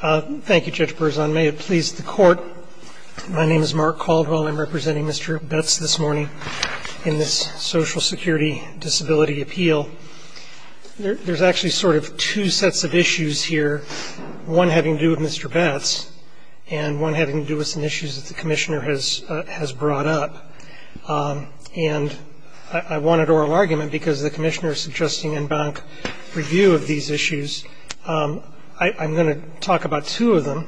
Thank you Judge Berzon. May it please the court, my name is Mark Caldwell. I'm representing Mr. Betts this morning in this Social Security Disability Appeal. There's actually sort of two sets of issues here, one having to do with Mr. Betts and one having to do with some issues that the Commissioner has brought up. And I wanted oral argument because the Commissioner is suggesting en banc review of these issues. I'm going to talk about two of them.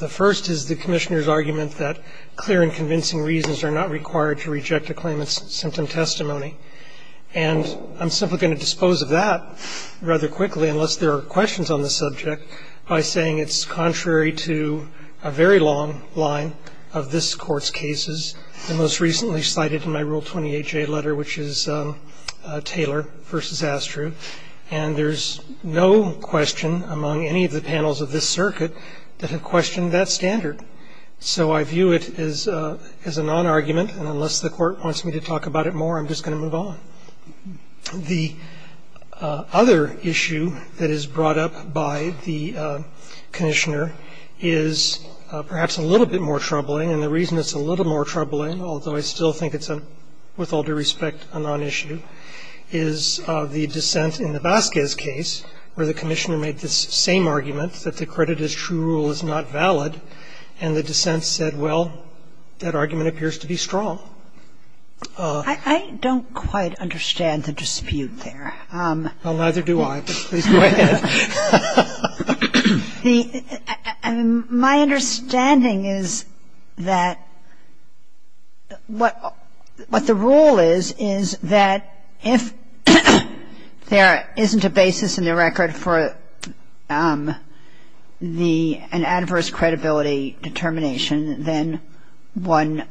The first is the Commissioner's argument that clear and convincing reasons are not required to reject a claimant's symptom testimony. And I'm simply going to dispose of that rather quickly unless there are questions on the subject by saying it's contrary to a very long line of this Court's cases. The most recently cited in my Rule 28J letter which is Taylor v. Astrew, and there's no question among any of the panels of this circuit that have questioned that standard. So I view it as a non-argument and unless the Court wants me to talk about it more I'm just going to move on. The other issue that is brought up by the Commissioner is perhaps a little bit more troubling and the reason it's a little bit more troubling, although I still think it's a, with all due respect, a non-issue, is the dissent in the Vasquez case where the Commissioner made this same argument that the credit as true rule is not valid and the dissent said, well, that argument appears to be strong. Kagan. I don't quite understand the dispute there. Well, neither do I, but please go ahead. My understanding is that what the rule is, is that if there isn't a basis in the record for the, an adverse credibility determination, then one,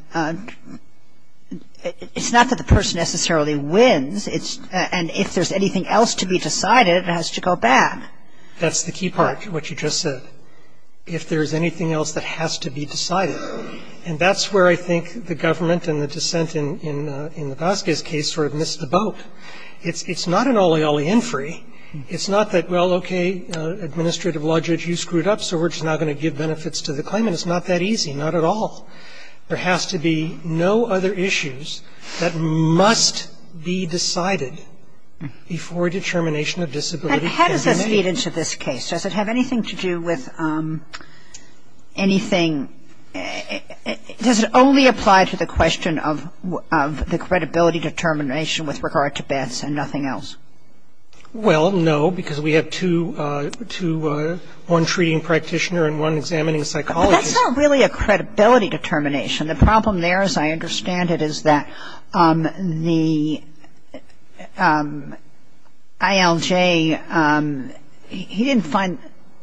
it's not that the person necessarily wins, it's, and if there's anything else to be decided it has to go bad. That's the key part, what you just said. If there's anything else that has to be decided. And that's where I think the government and the dissent in the Vasquez case sort of missed the boat. It's not an olly olly infery. It's not that, well, okay, Administrative Lodgett, you screwed up so we're just now going to give benefits to the claimant. So it's not that easy, not at all. There has to be no other issues that must be decided before a determination of disability can be made. And how does this feed into this case? Does it have anything to do with anything, does it only apply to the question of the credibility determination with regard to bets and nothing else? Well, no, because we have two, one treating practitioner and one examining psychologist. That's not really a credibility determination. The problem there, as I understand it, is that the ILJ, he didn't find,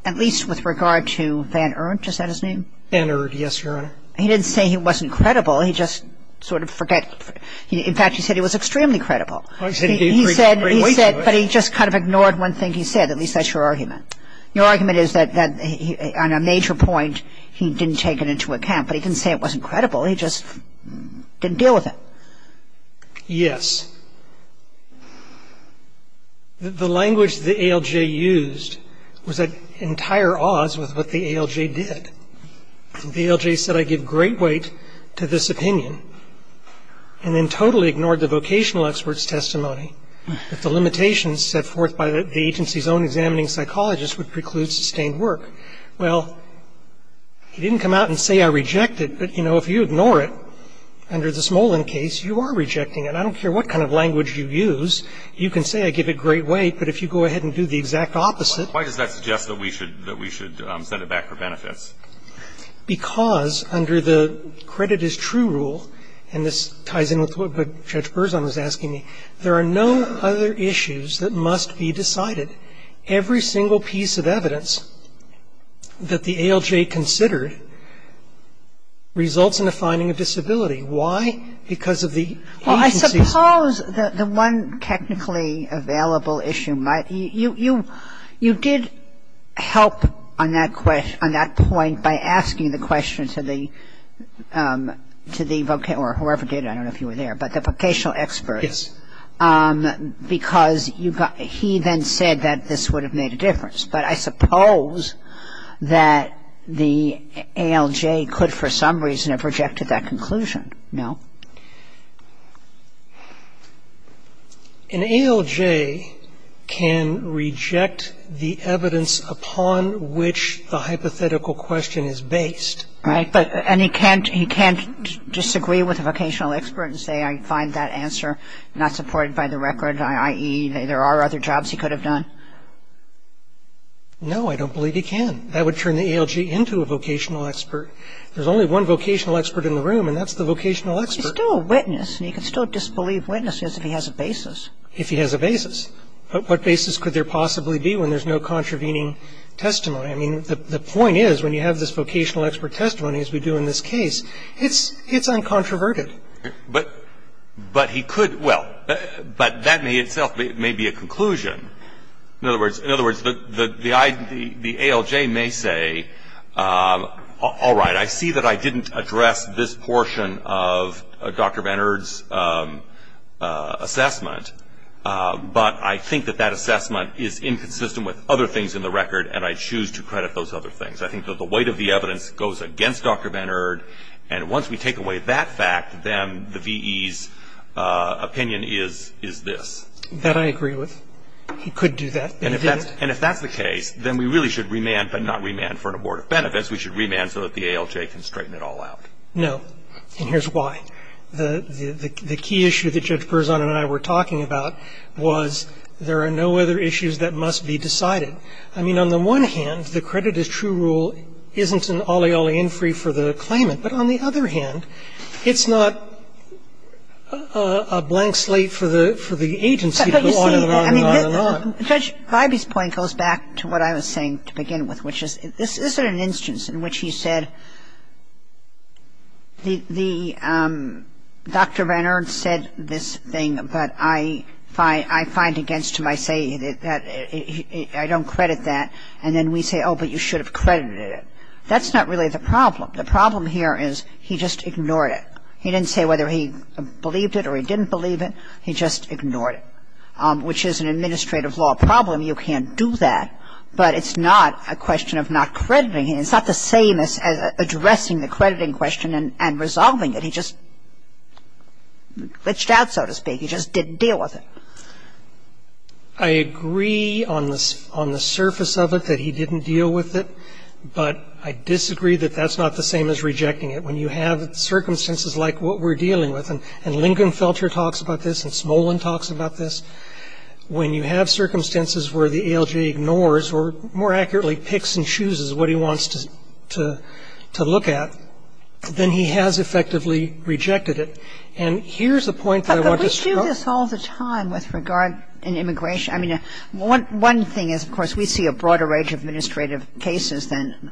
at least with regard to Van Ernt, is that his name? Van Ernt, yes, Your Honor. He didn't say he wasn't credible, he just sort of forget. In fact, he said he was extremely credible. He said he didn't bring weight to it. But he just kind of ignored one thing he said, at least that's your argument. Your argument is that on a major point, he didn't take it into account, but he didn't say it wasn't credible, he just didn't deal with it. Yes. The language the ALJ used was at entire odds with what the ALJ did. The ALJ said, I give great weight to this opinion, and then totally ignored the vocational expert's testimony that the limitations set forth by the agency's own examining psychologist would preclude sustained work. Well, he didn't come out and say I reject it, but, you know, if you ignore it under the Smolin case, you are rejecting it. I don't care what kind of language you use. You can say I give it great weight, but if you go ahead and do the exact opposite Why does that suggest that we should send it back for benefits? Because under the credit is true rule, and this ties in with what Judge Berzon was asking me, there are no other issues that must be decided. Every single piece of evidence that the ALJ considered results in a finding of disability. Why? Because of the agency's Well, I suppose the one technically available issue, you did help on that point by asking the question to the vocational, or whoever did it, I don't know if you were there, but the vocational expert, because he then said that this would have made a difference, but I suppose that the ALJ could for some reason have rejected that conclusion. No? An ALJ can reject the evidence upon which the hypothetical question is based Right, and he can't disagree with a vocational expert and say I find that answer not supported by the record, i.e. there are other jobs he could have done? No, I don't believe he can. That would turn the ALJ into a vocational expert. There's only one vocational expert in the room, and that's the vocational expert He's still a witness, and he can still disbelieve witnesses if he has a basis If he has a basis. What basis could there possibly be when there's no contravening testimony? The point is, when you have this vocational expert testimony, as we do in this case, it's uncontroverted. But he could, well, but that in itself may be a conclusion. In other words, the ALJ may say, all right, I see that I didn't address this portion of Dr. Bannard's assessment, but I think that that assessment is inconsistent with other things in the record, and I choose to credit those other things. I think that the weight of the evidence goes against Dr. Bannard, and once we take away that fact, then the V.E.'s opinion is this. That I agree with. He could do that, but he didn't. And if that's the case, then we really should remand, but not remand for an abortive benefit. We should remand so that the ALJ can straighten it all out. No, and here's why. The key issue that Judge Berzon and I were talking about was there are no other issues that must be decided. I mean, on the one hand, the credit as true rule isn't an olly olly infrey for the claimant, but on the other hand, it's not a blank slate for the agency to go on and on and on and on. But, you see, Judge Ivey's point goes back to what I was saying to begin with, which is this isn't an instance in which he said the Dr. Bannard said this thing, but I find against him I say that I don't credit that, and then we say, oh, but you should have credited it. That's not really the problem. The problem here is he just ignored it. He didn't say whether he believed it or he didn't believe it. He just ignored it, which is an administrative law problem. You can't do that, but it's not a question of not crediting it. It's not the same as addressing the crediting question and resolving it. He just glitched out, so to speak. He just didn't deal with it. I agree on the surface of it that he didn't deal with it, but I disagree that that's not the same as rejecting it. When you have circumstances like what we're dealing with, and Lincoln Felcher talks about this and Smolin talks about this, when you have circumstances where the ALJ ignores or, more accurately, picks and chooses what he wants to look at, then he has effectively rejected it. But we do this all the time with regard in immigration. I mean, one thing is, of course, we see a broader range of administrative cases than,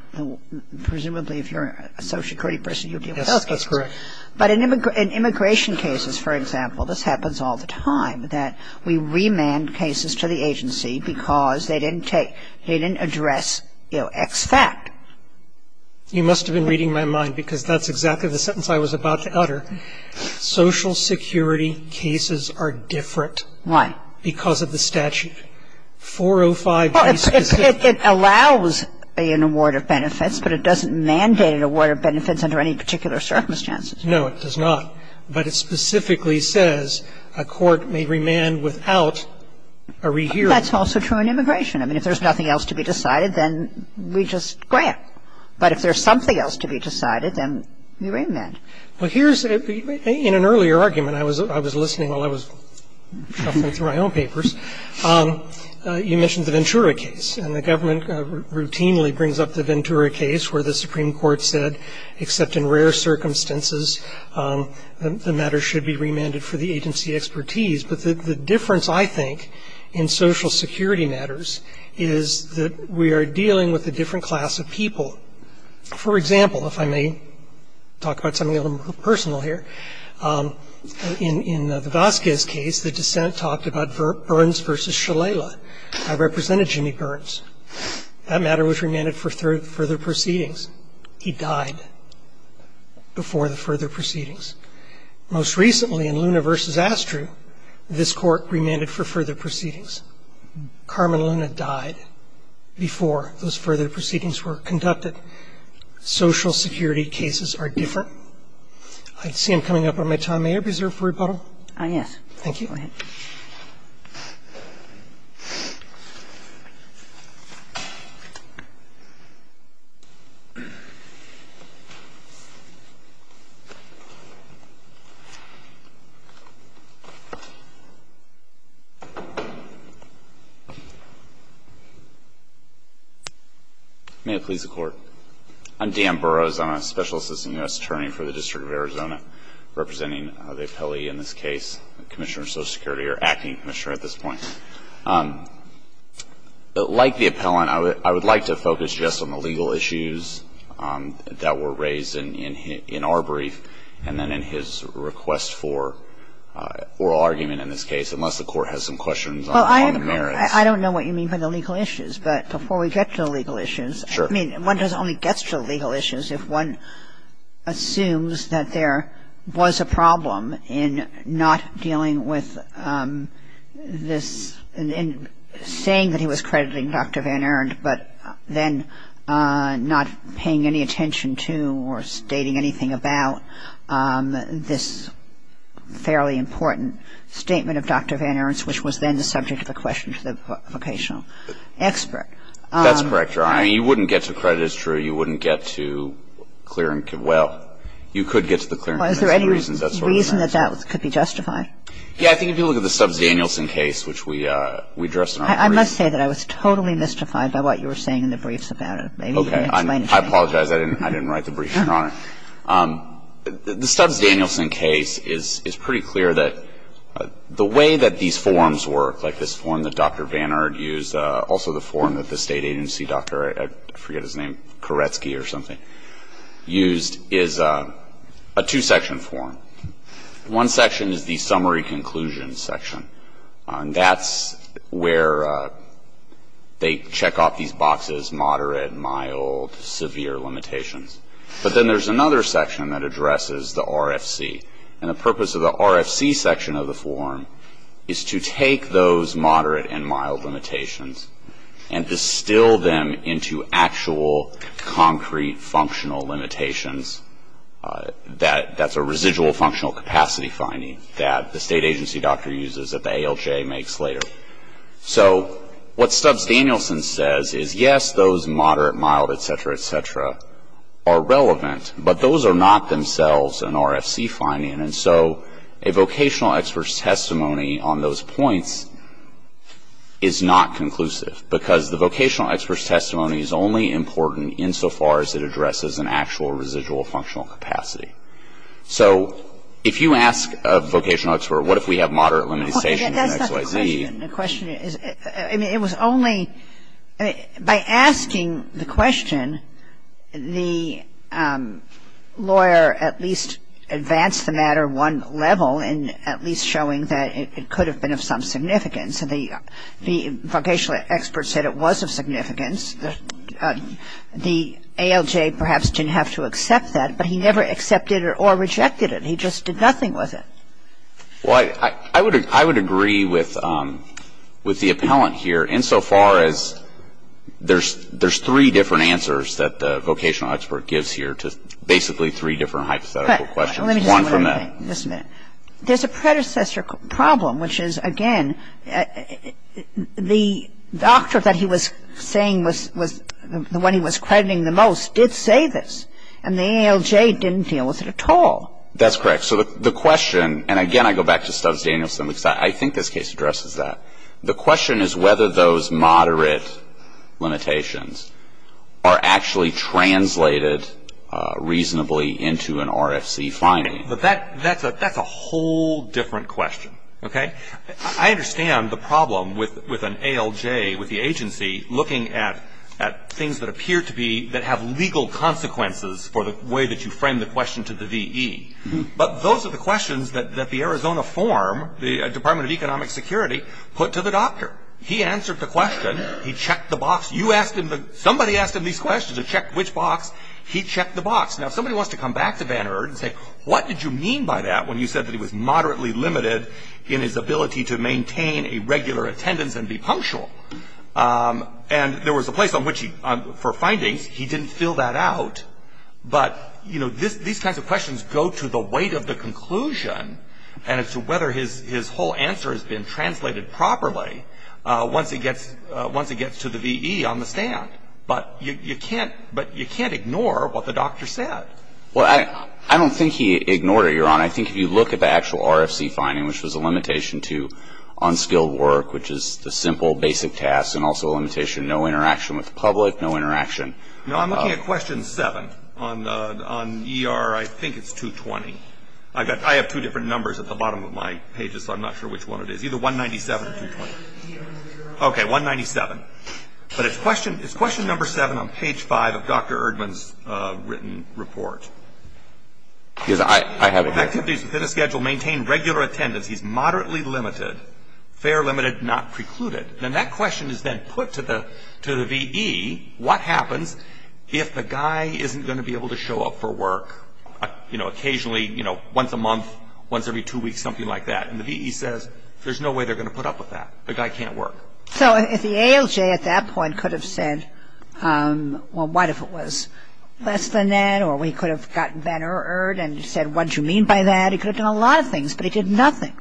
presumably, if you're a social security person, you deal with those cases. Yes, that's correct. But in immigration cases, for example, this happens all the time, that we remand cases to the agency because they didn't address X fact. You must have been reading my mind, because that's exactly the sentence I was about to utter. Social security cases are different. Why? Because of the statute. 405A specifically. It allows an award of benefits, but it doesn't mandate an award of benefits under any particular circumstances. No, it does not. But it specifically says a court may remand without a rehearing. That's also true in immigration. I mean, if there's nothing else to be decided, then we just grant. But if there's something else to be decided, then we remand. Well, here's the thing. In an earlier argument, I was listening while I was shuffling through my own papers, you mentioned the Ventura case. And the government routinely brings up the Ventura case, where the Supreme Court said, except in rare circumstances, the matter should be remanded for the agency expertise. But the difference, I think, in social security matters is that we are dealing with a different class of people. For example, if I may talk about something a little more personal here, in the Vasquez case, the dissent talked about Burns versus Shalala. I represented Jimmy Burns. That matter was remanded for further proceedings. He died before the further proceedings. Most recently, in Luna versus Astru, this court remanded for further proceedings. Carmen Luna died before those further proceedings were conducted. Social security cases are different. I see I'm coming up on my time. May I reserve for rebuttal? Thank you. Go ahead. May it please the Court. I'm Dan Burrows. I'm a Special Assistant U.S. Attorney for the District of Arizona, representing the appellee in this case, Commissioner of Social Security, or Acting Commissioner at this point. Like the appellant, I would like to focus just on the legal issues that were raised in our brief, and then in his request for oral argument in this case, unless the Court has some questions on the merits. I don't know what you mean by the legal issues. But before we get to the legal issues, I mean, one only gets to the legal issues if one assumes that there was a problem in not dealing with this, in saying that he was crediting Dr. Van Erndt, but then not paying any attention to or stating anything about this fairly important statement of Dr. Van Erndt's, which was then the subject of a question to the vocational expert. That's correct, Your Honor. I mean, you wouldn't get to credit as true. You wouldn't get to clear and – well, you could get to the clear and convincing reasons. Is there any reason that that could be justified? Yeah, I think if you look at the Subs Danielson case, which we addressed in our brief. I must say that I was totally mystified by what you were saying in the briefs about it. Maybe you can explain it to me. Okay. I apologize. I didn't write the brief, Your Honor. The Subs Danielson case is pretty clear that the way that these forms work, like this form that Dr. Van Erndt used, also the form that the State Agency doctor – I forget his name – Koretsky or something, used is a two-section form. One section is the summary conclusion section. That's where they check off these boxes, moderate, mild, severe limitations. But then there's another section that addresses the RFC. And the purpose of the RFC section of the form is to take those moderate and mild limitations and distill them into actual, concrete, functional limitations. That's a residual functional capacity finding that the State Agency doctor uses that the ALJ makes later. So what Subs Danielson says is, yes, those moderate, mild, et cetera, et cetera, are relevant, but those are not themselves an RFC finding. And so a vocational expert's testimony on those points is not conclusive, because the vocational expert's testimony is only important insofar as it addresses an actual residual functional capacity. So if you ask a vocational expert, what if we have moderate limitations in X, Y, Z? The question is – I mean, it was only – by asking the question, the lawyer at least advanced the matter one level in at least showing that it could have been of some significance. The ALJ perhaps didn't have to accept that, but he never accepted it or rejected it. He just did nothing with it. Well, I would agree with the appellant here, insofar as there's three different answers that the vocational expert gives here to basically three different hypothetical questions. One from that. Let me just say one other thing. There's a predecessor problem, which is, again, the doctor that he was saying was – the one he was crediting the most did say this, and the ALJ didn't deal with it at all. That's correct. So the question – and again, I go back to Stubbs-Danielson, because I think this case addresses that. The question is whether those moderate limitations are actually translated reasonably into an RFC finding. But that's a whole different question, okay? I understand the problem with an ALJ, with the agency, looking at things that appear to be – that have legal consequences for the way that you frame the question to the VE. But those are the questions that the Arizona form, the Department of Economic Security, put to the doctor. He answered the question. He checked the box. You asked him the – somebody asked him these questions. They checked which box. He checked the box. Now, if somebody wants to come back to Bannerd and say, what did you mean by that when you said that he was moderately limited in his ability to maintain a regular attendance and be punctual? And there was a place on which he – for findings. He didn't fill that out. But these kinds of questions go to the weight of the conclusion and as to whether his whole answer has been translated properly once it gets to the VE on the stand. But you can't – but you can't ignore what the doctor said. Well, I don't think he ignored it, Your Honor. I think if you look at the actual RFC finding, which was a limitation to unskilled work, which is the simple, basic tasks, and also a limitation of no interaction with the public, no interaction – No, I'm looking at question seven on ER. I think it's 220. I have two different numbers at the bottom of my pages, so I'm not sure which one it is. Either 197 or 220. Okay, 197. But it's question number seven on page five of Dr. Erdman's written report. Because I haven't heard it. If activities within a schedule maintain regular attendance, he's moderately limited, fair limited, not precluded. And that question is then put to the VE, what happens if the guy isn't going to be able to show up for work, you know, occasionally, you know, once a month, once every two weeks, something like that? And the VE says, there's no way they're going to put up with that. The guy can't work. So if the ALJ at that point could have said, well, what if it was less than that, or he could have gotten Van Erd and said, what did you mean by that? He could have done a lot of things, but he did nothing.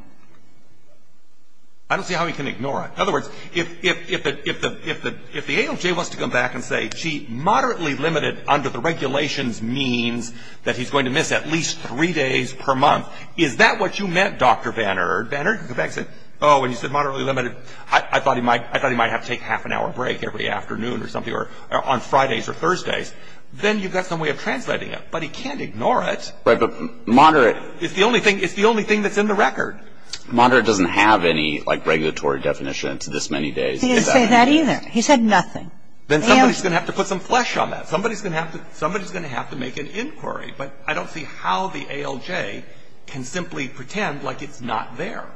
I don't see how he can ignore it. In other words, if the ALJ wants to come back and say, gee, moderately limited under the regulations means that he's going to miss at least three days per month, is that what you meant, Dr. Van Erd? Van Erd can come back and say, oh, when you said moderately limited, I thought he might have to take half an hour break every afternoon or something or on Fridays or Thursdays. Then you've got some way of translating it. But he can't ignore it. Right. But moderate is the only thing that's in the record. Moderate doesn't have any, like, regulatory definition to this many days. He didn't say that either. He said nothing. Then somebody's going to have to put some flesh on that. Somebody's going to have to make an inquiry. But I don't see how the ALJ can simply pretend like it's not there.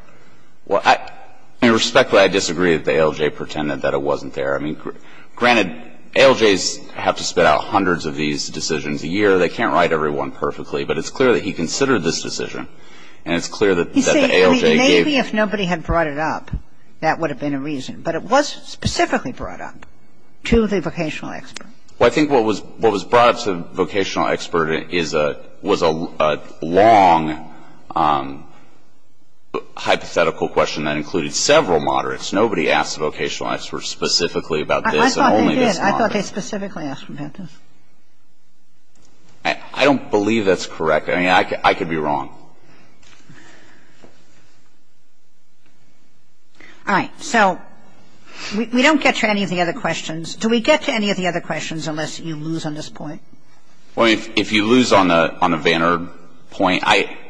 Well, I mean, respectfully, I disagree that the ALJ pretended that it wasn't there. I mean, granted, ALJs have to spit out hundreds of these decisions a year. They can't write every one perfectly. But it's clear that he considered this decision. And it's clear that the ALJ gave it. You see, maybe if nobody had brought it up, that would have been a reason. But it was specifically brought up to the vocational expert. Well, I think what was brought up to the vocational expert was a long hypothetical question that included several moderates. Nobody asked the vocational expert specifically about this and only this moderate. I thought they did. I thought they specifically asked about this. I don't believe that's correct. I mean, I could be wrong. All right. So we don't get to any of the other questions. Do we get to any of the other questions unless you lose on this point? Well, if you lose on the Van Erd point, I —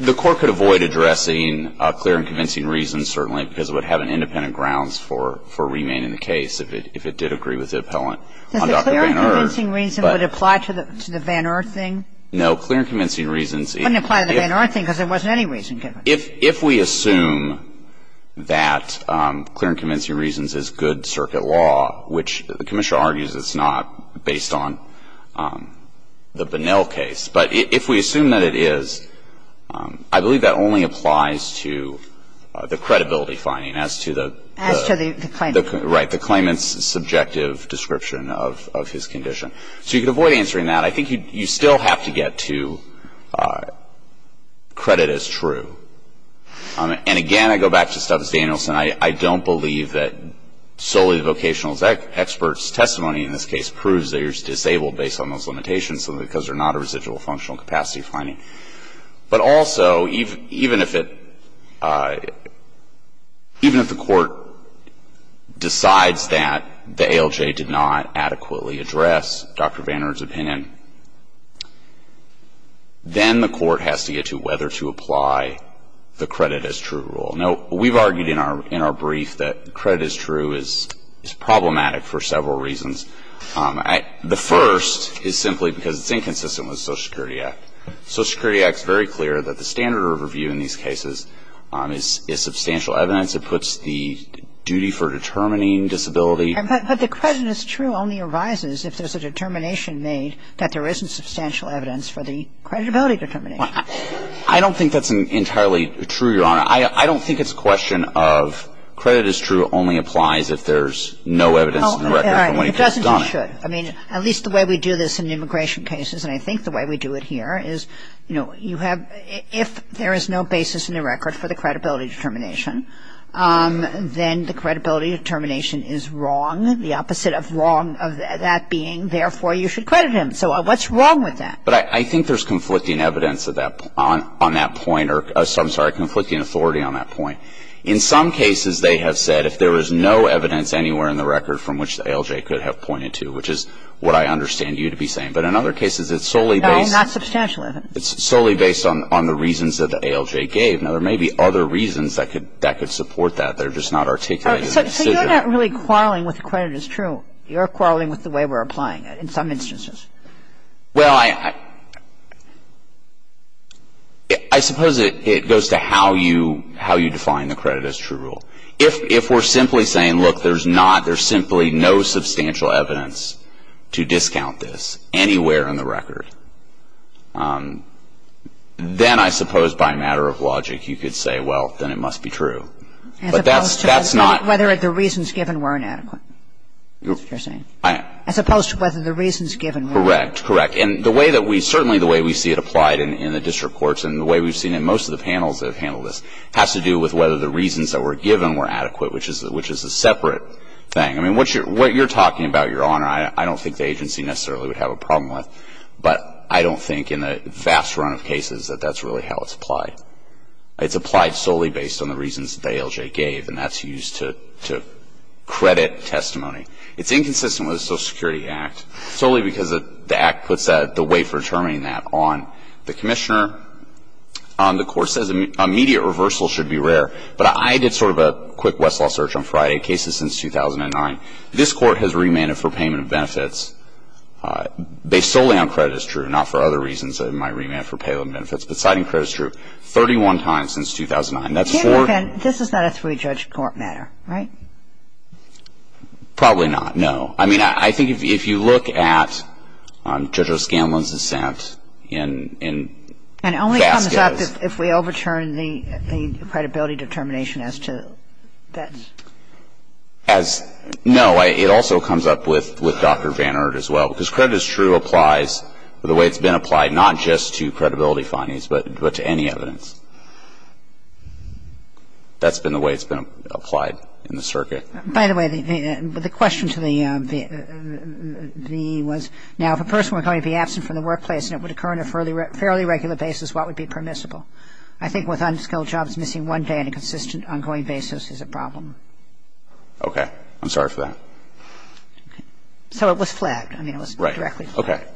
the Court could avoid addressing clear and convincing reasons, certainly, because it would have an independent grounds for remaining the case if it did agree with the appellant on Dr. Van Erd. But the clear and convincing reason would apply to the Van Erd thing? No. Clear and convincing reasons — It wouldn't apply to the Van Erd thing because there wasn't any reason given. If we assume that clear and convincing reasons is good circuit law, which the Commissioner argues it's not based on the Bunnell case, but if we assume that it is, I believe that only applies to the credibility finding as to the — As to the claimant. Right. The claimant's subjective description of his condition. So you could avoid answering that. But I think you still have to get to credit as true. And again, I go back to Stubbs Danielson. I don't believe that solely the vocational expert's testimony in this case proves that you're disabled based on those limitations because they're not a residual functional capacity finding. But also, even if it — even if the Court decides that the ALJ did not adequately address Dr. Van Erd's opinion, then the Court has to get to whether to apply the credit as true rule. Now, we've argued in our brief that credit as true is problematic for several reasons. The first is simply because it's inconsistent with the Social Security Act. Social Security Act is very clear that the standard of review in these cases is substantial evidence. It puts the duty for determining disability — But the credit as true only arises if there's a determination made that there isn't substantial evidence for the credibility determination. Well, I don't think that's entirely true, Your Honor. I don't think it's a question of credit as true only applies if there's no evidence in the record from when he gets done. Well, it doesn't say should. I mean, at least the way we do this in immigration cases, and I think the way we do it here, is, you know, you have — if there is no basis in the record for the credibility determination, then the credibility determination is wrong, the opposite of wrong of that being, therefore, you should credit him. So what's wrong with that? But I think there's conflicting evidence on that point — I'm sorry, conflicting authority on that point. In some cases, they have said if there is no evidence anywhere in the record from which the ALJ could have pointed to, which is what I understand you to be saying, but in other cases, it's solely based — No, not substantial evidence. It's solely based on the reasons that the ALJ gave. Now, there may be other reasons that could support that. They're just not articulated in the decision. So you're not really quarreling with credit as true. You're quarreling with the way we're applying it in some instances. Well, I suppose it goes to how you define the credit as true rule. If we're simply saying, look, there's not — there's simply no substantial evidence to discount this anywhere in the record, then I suppose by matter of logic, you could say, well, then it must be true. But that's not — As opposed to whether the reasons given were inadequate, is what you're saying? As opposed to whether the reasons given were — Correct. Correct. And the way that we — certainly the way we see it applied in the district courts and the way we've seen it in most of the panels that have handled this has to do with whether the reasons that were given were adequate, which is a separate thing. What you're talking about, Your Honor, I don't think the agency necessarily would have a problem with. But I don't think in the vast run of cases that that's really how it's applied. It's applied solely based on the reasons that ALJ gave, and that's used to credit testimony. It's inconsistent with the Social Security Act solely because the act puts the weight for determining that on the commissioner, on the court, says immediate reversal should be rare. But I did sort of a quick Westlaw search on Friday. Cases since 2009. This Court has remanded for payment of benefits. Based solely on credit is true, not for other reasons that it might remand for payment of benefits. But citing credit is true 31 times since 2009. That's four — This is not a three-judge court matter, right? Probably not. No. I mean, I think if you look at Judge O'Scanlan's dissent in — And it only comes up if we overturn the credibility determination as to that. As — no, it also comes up with Dr. Vannert as well. Because credit is true applies the way it's been applied not just to credibility findings, but to any evidence. That's been the way it's been applied in the circuit. By the way, the question to the VE was, now, if a person were going to be absent from the case, what would be permissible? I think with unskilled jobs missing one day on a consistent, ongoing basis is a problem. Okay. I'm sorry for that. So it was flagged. I mean, it was directly flagged. Right.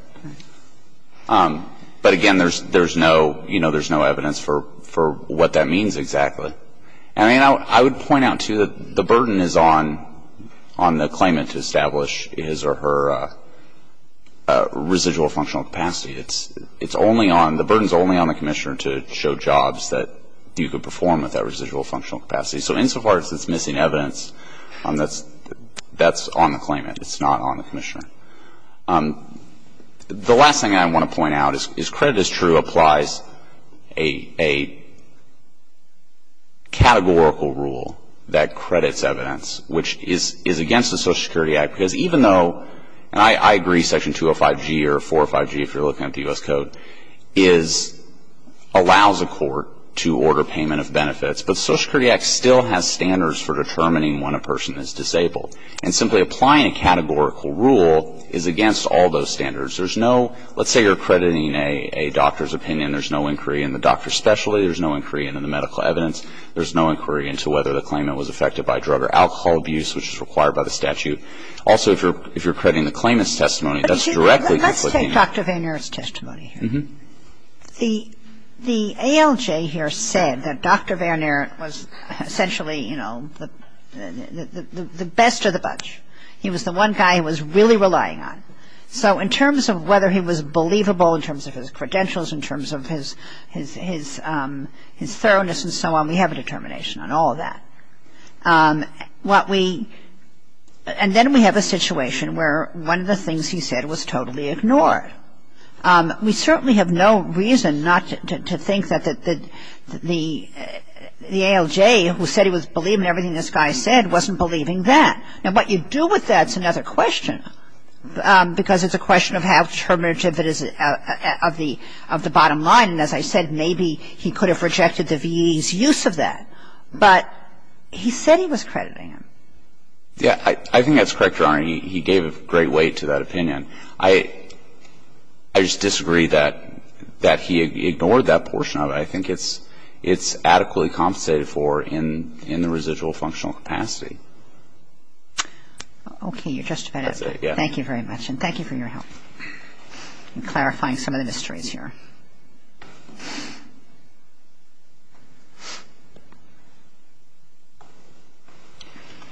Okay. But again, there's no — you know, there's no evidence for what that means exactly. I mean, I would point out, too, that the burden is on the claimant to establish his or her residual functional capacity. It's only on — the burden's only on the commissioner to show jobs that you could perform with that residual functional capacity. So insofar as it's missing evidence, that's on the claimant. It's not on the commissioner. The last thing I want to point out is credit is true applies a categorical rule that credits evidence, which is against the Social Security Act. Because even though — and I agree Section 205G or 405G, if you're looking at the U.S. Code, is — allows a court to order payment of benefits. But the Social Security Act still has standards for determining when a person is disabled. And simply applying a categorical rule is against all those standards. There's no — let's say you're crediting a doctor's opinion. There's no inquiry in the doctor's specialty. There's no inquiry into the medical evidence. There's no inquiry into whether the claimant was affected by drug or alcohol abuse, which is required by the statute. Also, if you're crediting the claimant's testimony, that's directly conflicting. Let's take Dr. Van Aert's testimony here. Mm-hmm. The ALJ here said that Dr. Van Aert was essentially, you know, the best of the bunch. He was the one guy he was really relying on. So in terms of whether he was believable in terms of his credentials, in terms of his thoroughness and so on, we have a determination on all of that. What we — and then we have a situation where one of the things he said was totally ignored. We certainly have no reason not to think that the ALJ, who said he was believing everything this guy said, wasn't believing that. Now, what you do with that is another question, because it's a question of how terminative it is of the bottom line. And as I said, maybe he could have rejected the VE's use of that. But he said he was crediting him. Yeah. I think that's correct, Your Honor. He gave great weight to that opinion. I just disagree that he ignored that portion of it. I think it's adequately compensated for in the residual functional capacity. Okay. You're just about out of time. Thank you very much. And thank you for your help in clarifying some of the mysteries here.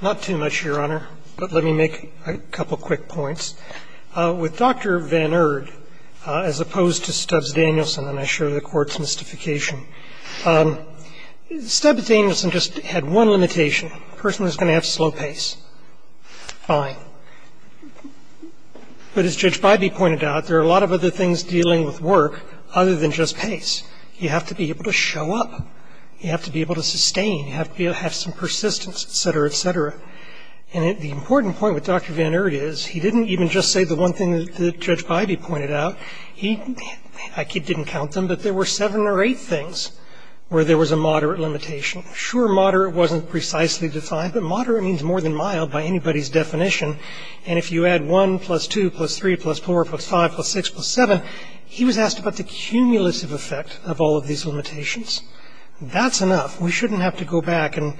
Not too much, Your Honor, but let me make a couple quick points. With Dr. Van Erd, as opposed to Stubbs-Danielson, and I share the Court's mystification, Stubbs-Danielson just had one limitation, a person who's going to have slow pace. Fine. But as Judge Bybee pointed out, there are a lot of other things dealing with work other than just pace. You have to be able to show up. You have to be able to sustain that pace. You have to be able to have some persistence, et cetera, et cetera. And the important point with Dr. Van Erd is he didn't even just say the one thing that Judge Bybee pointed out. He didn't count them, but there were seven or eight things where there was a moderate limitation. Sure, moderate wasn't precisely defined, but moderate means more than mild by anybody's definition. And if you add 1 plus 2 plus 3 plus 4 plus 5 plus 6 plus 7, he was asked about the cumulative effect of all of these limitations. That's enough. We shouldn't have to go back and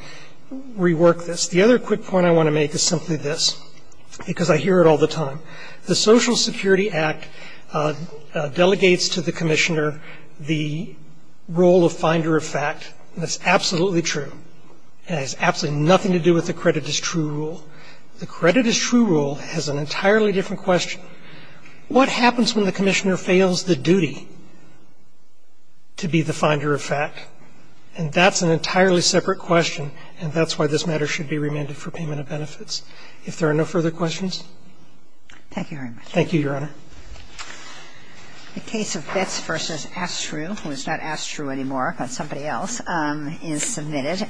rework this. The other quick point I want to make is simply this, because I hear it all the time. The Social Security Act delegates to the commissioner the role of finder of fact, and that's absolutely true. It has absolutely nothing to do with the credit is true rule. The credit is true rule has an entirely different question. What happens when the commissioner fails the duty to be the finder of fact? And that's an entirely separate question, and that's why this matter should be remanded for payment of benefits. If there are no further questions. Thank you very much. Thank you, Your Honor. The case of Betz v. Astrew, who is not Astrew anymore, but somebody else, is submitted.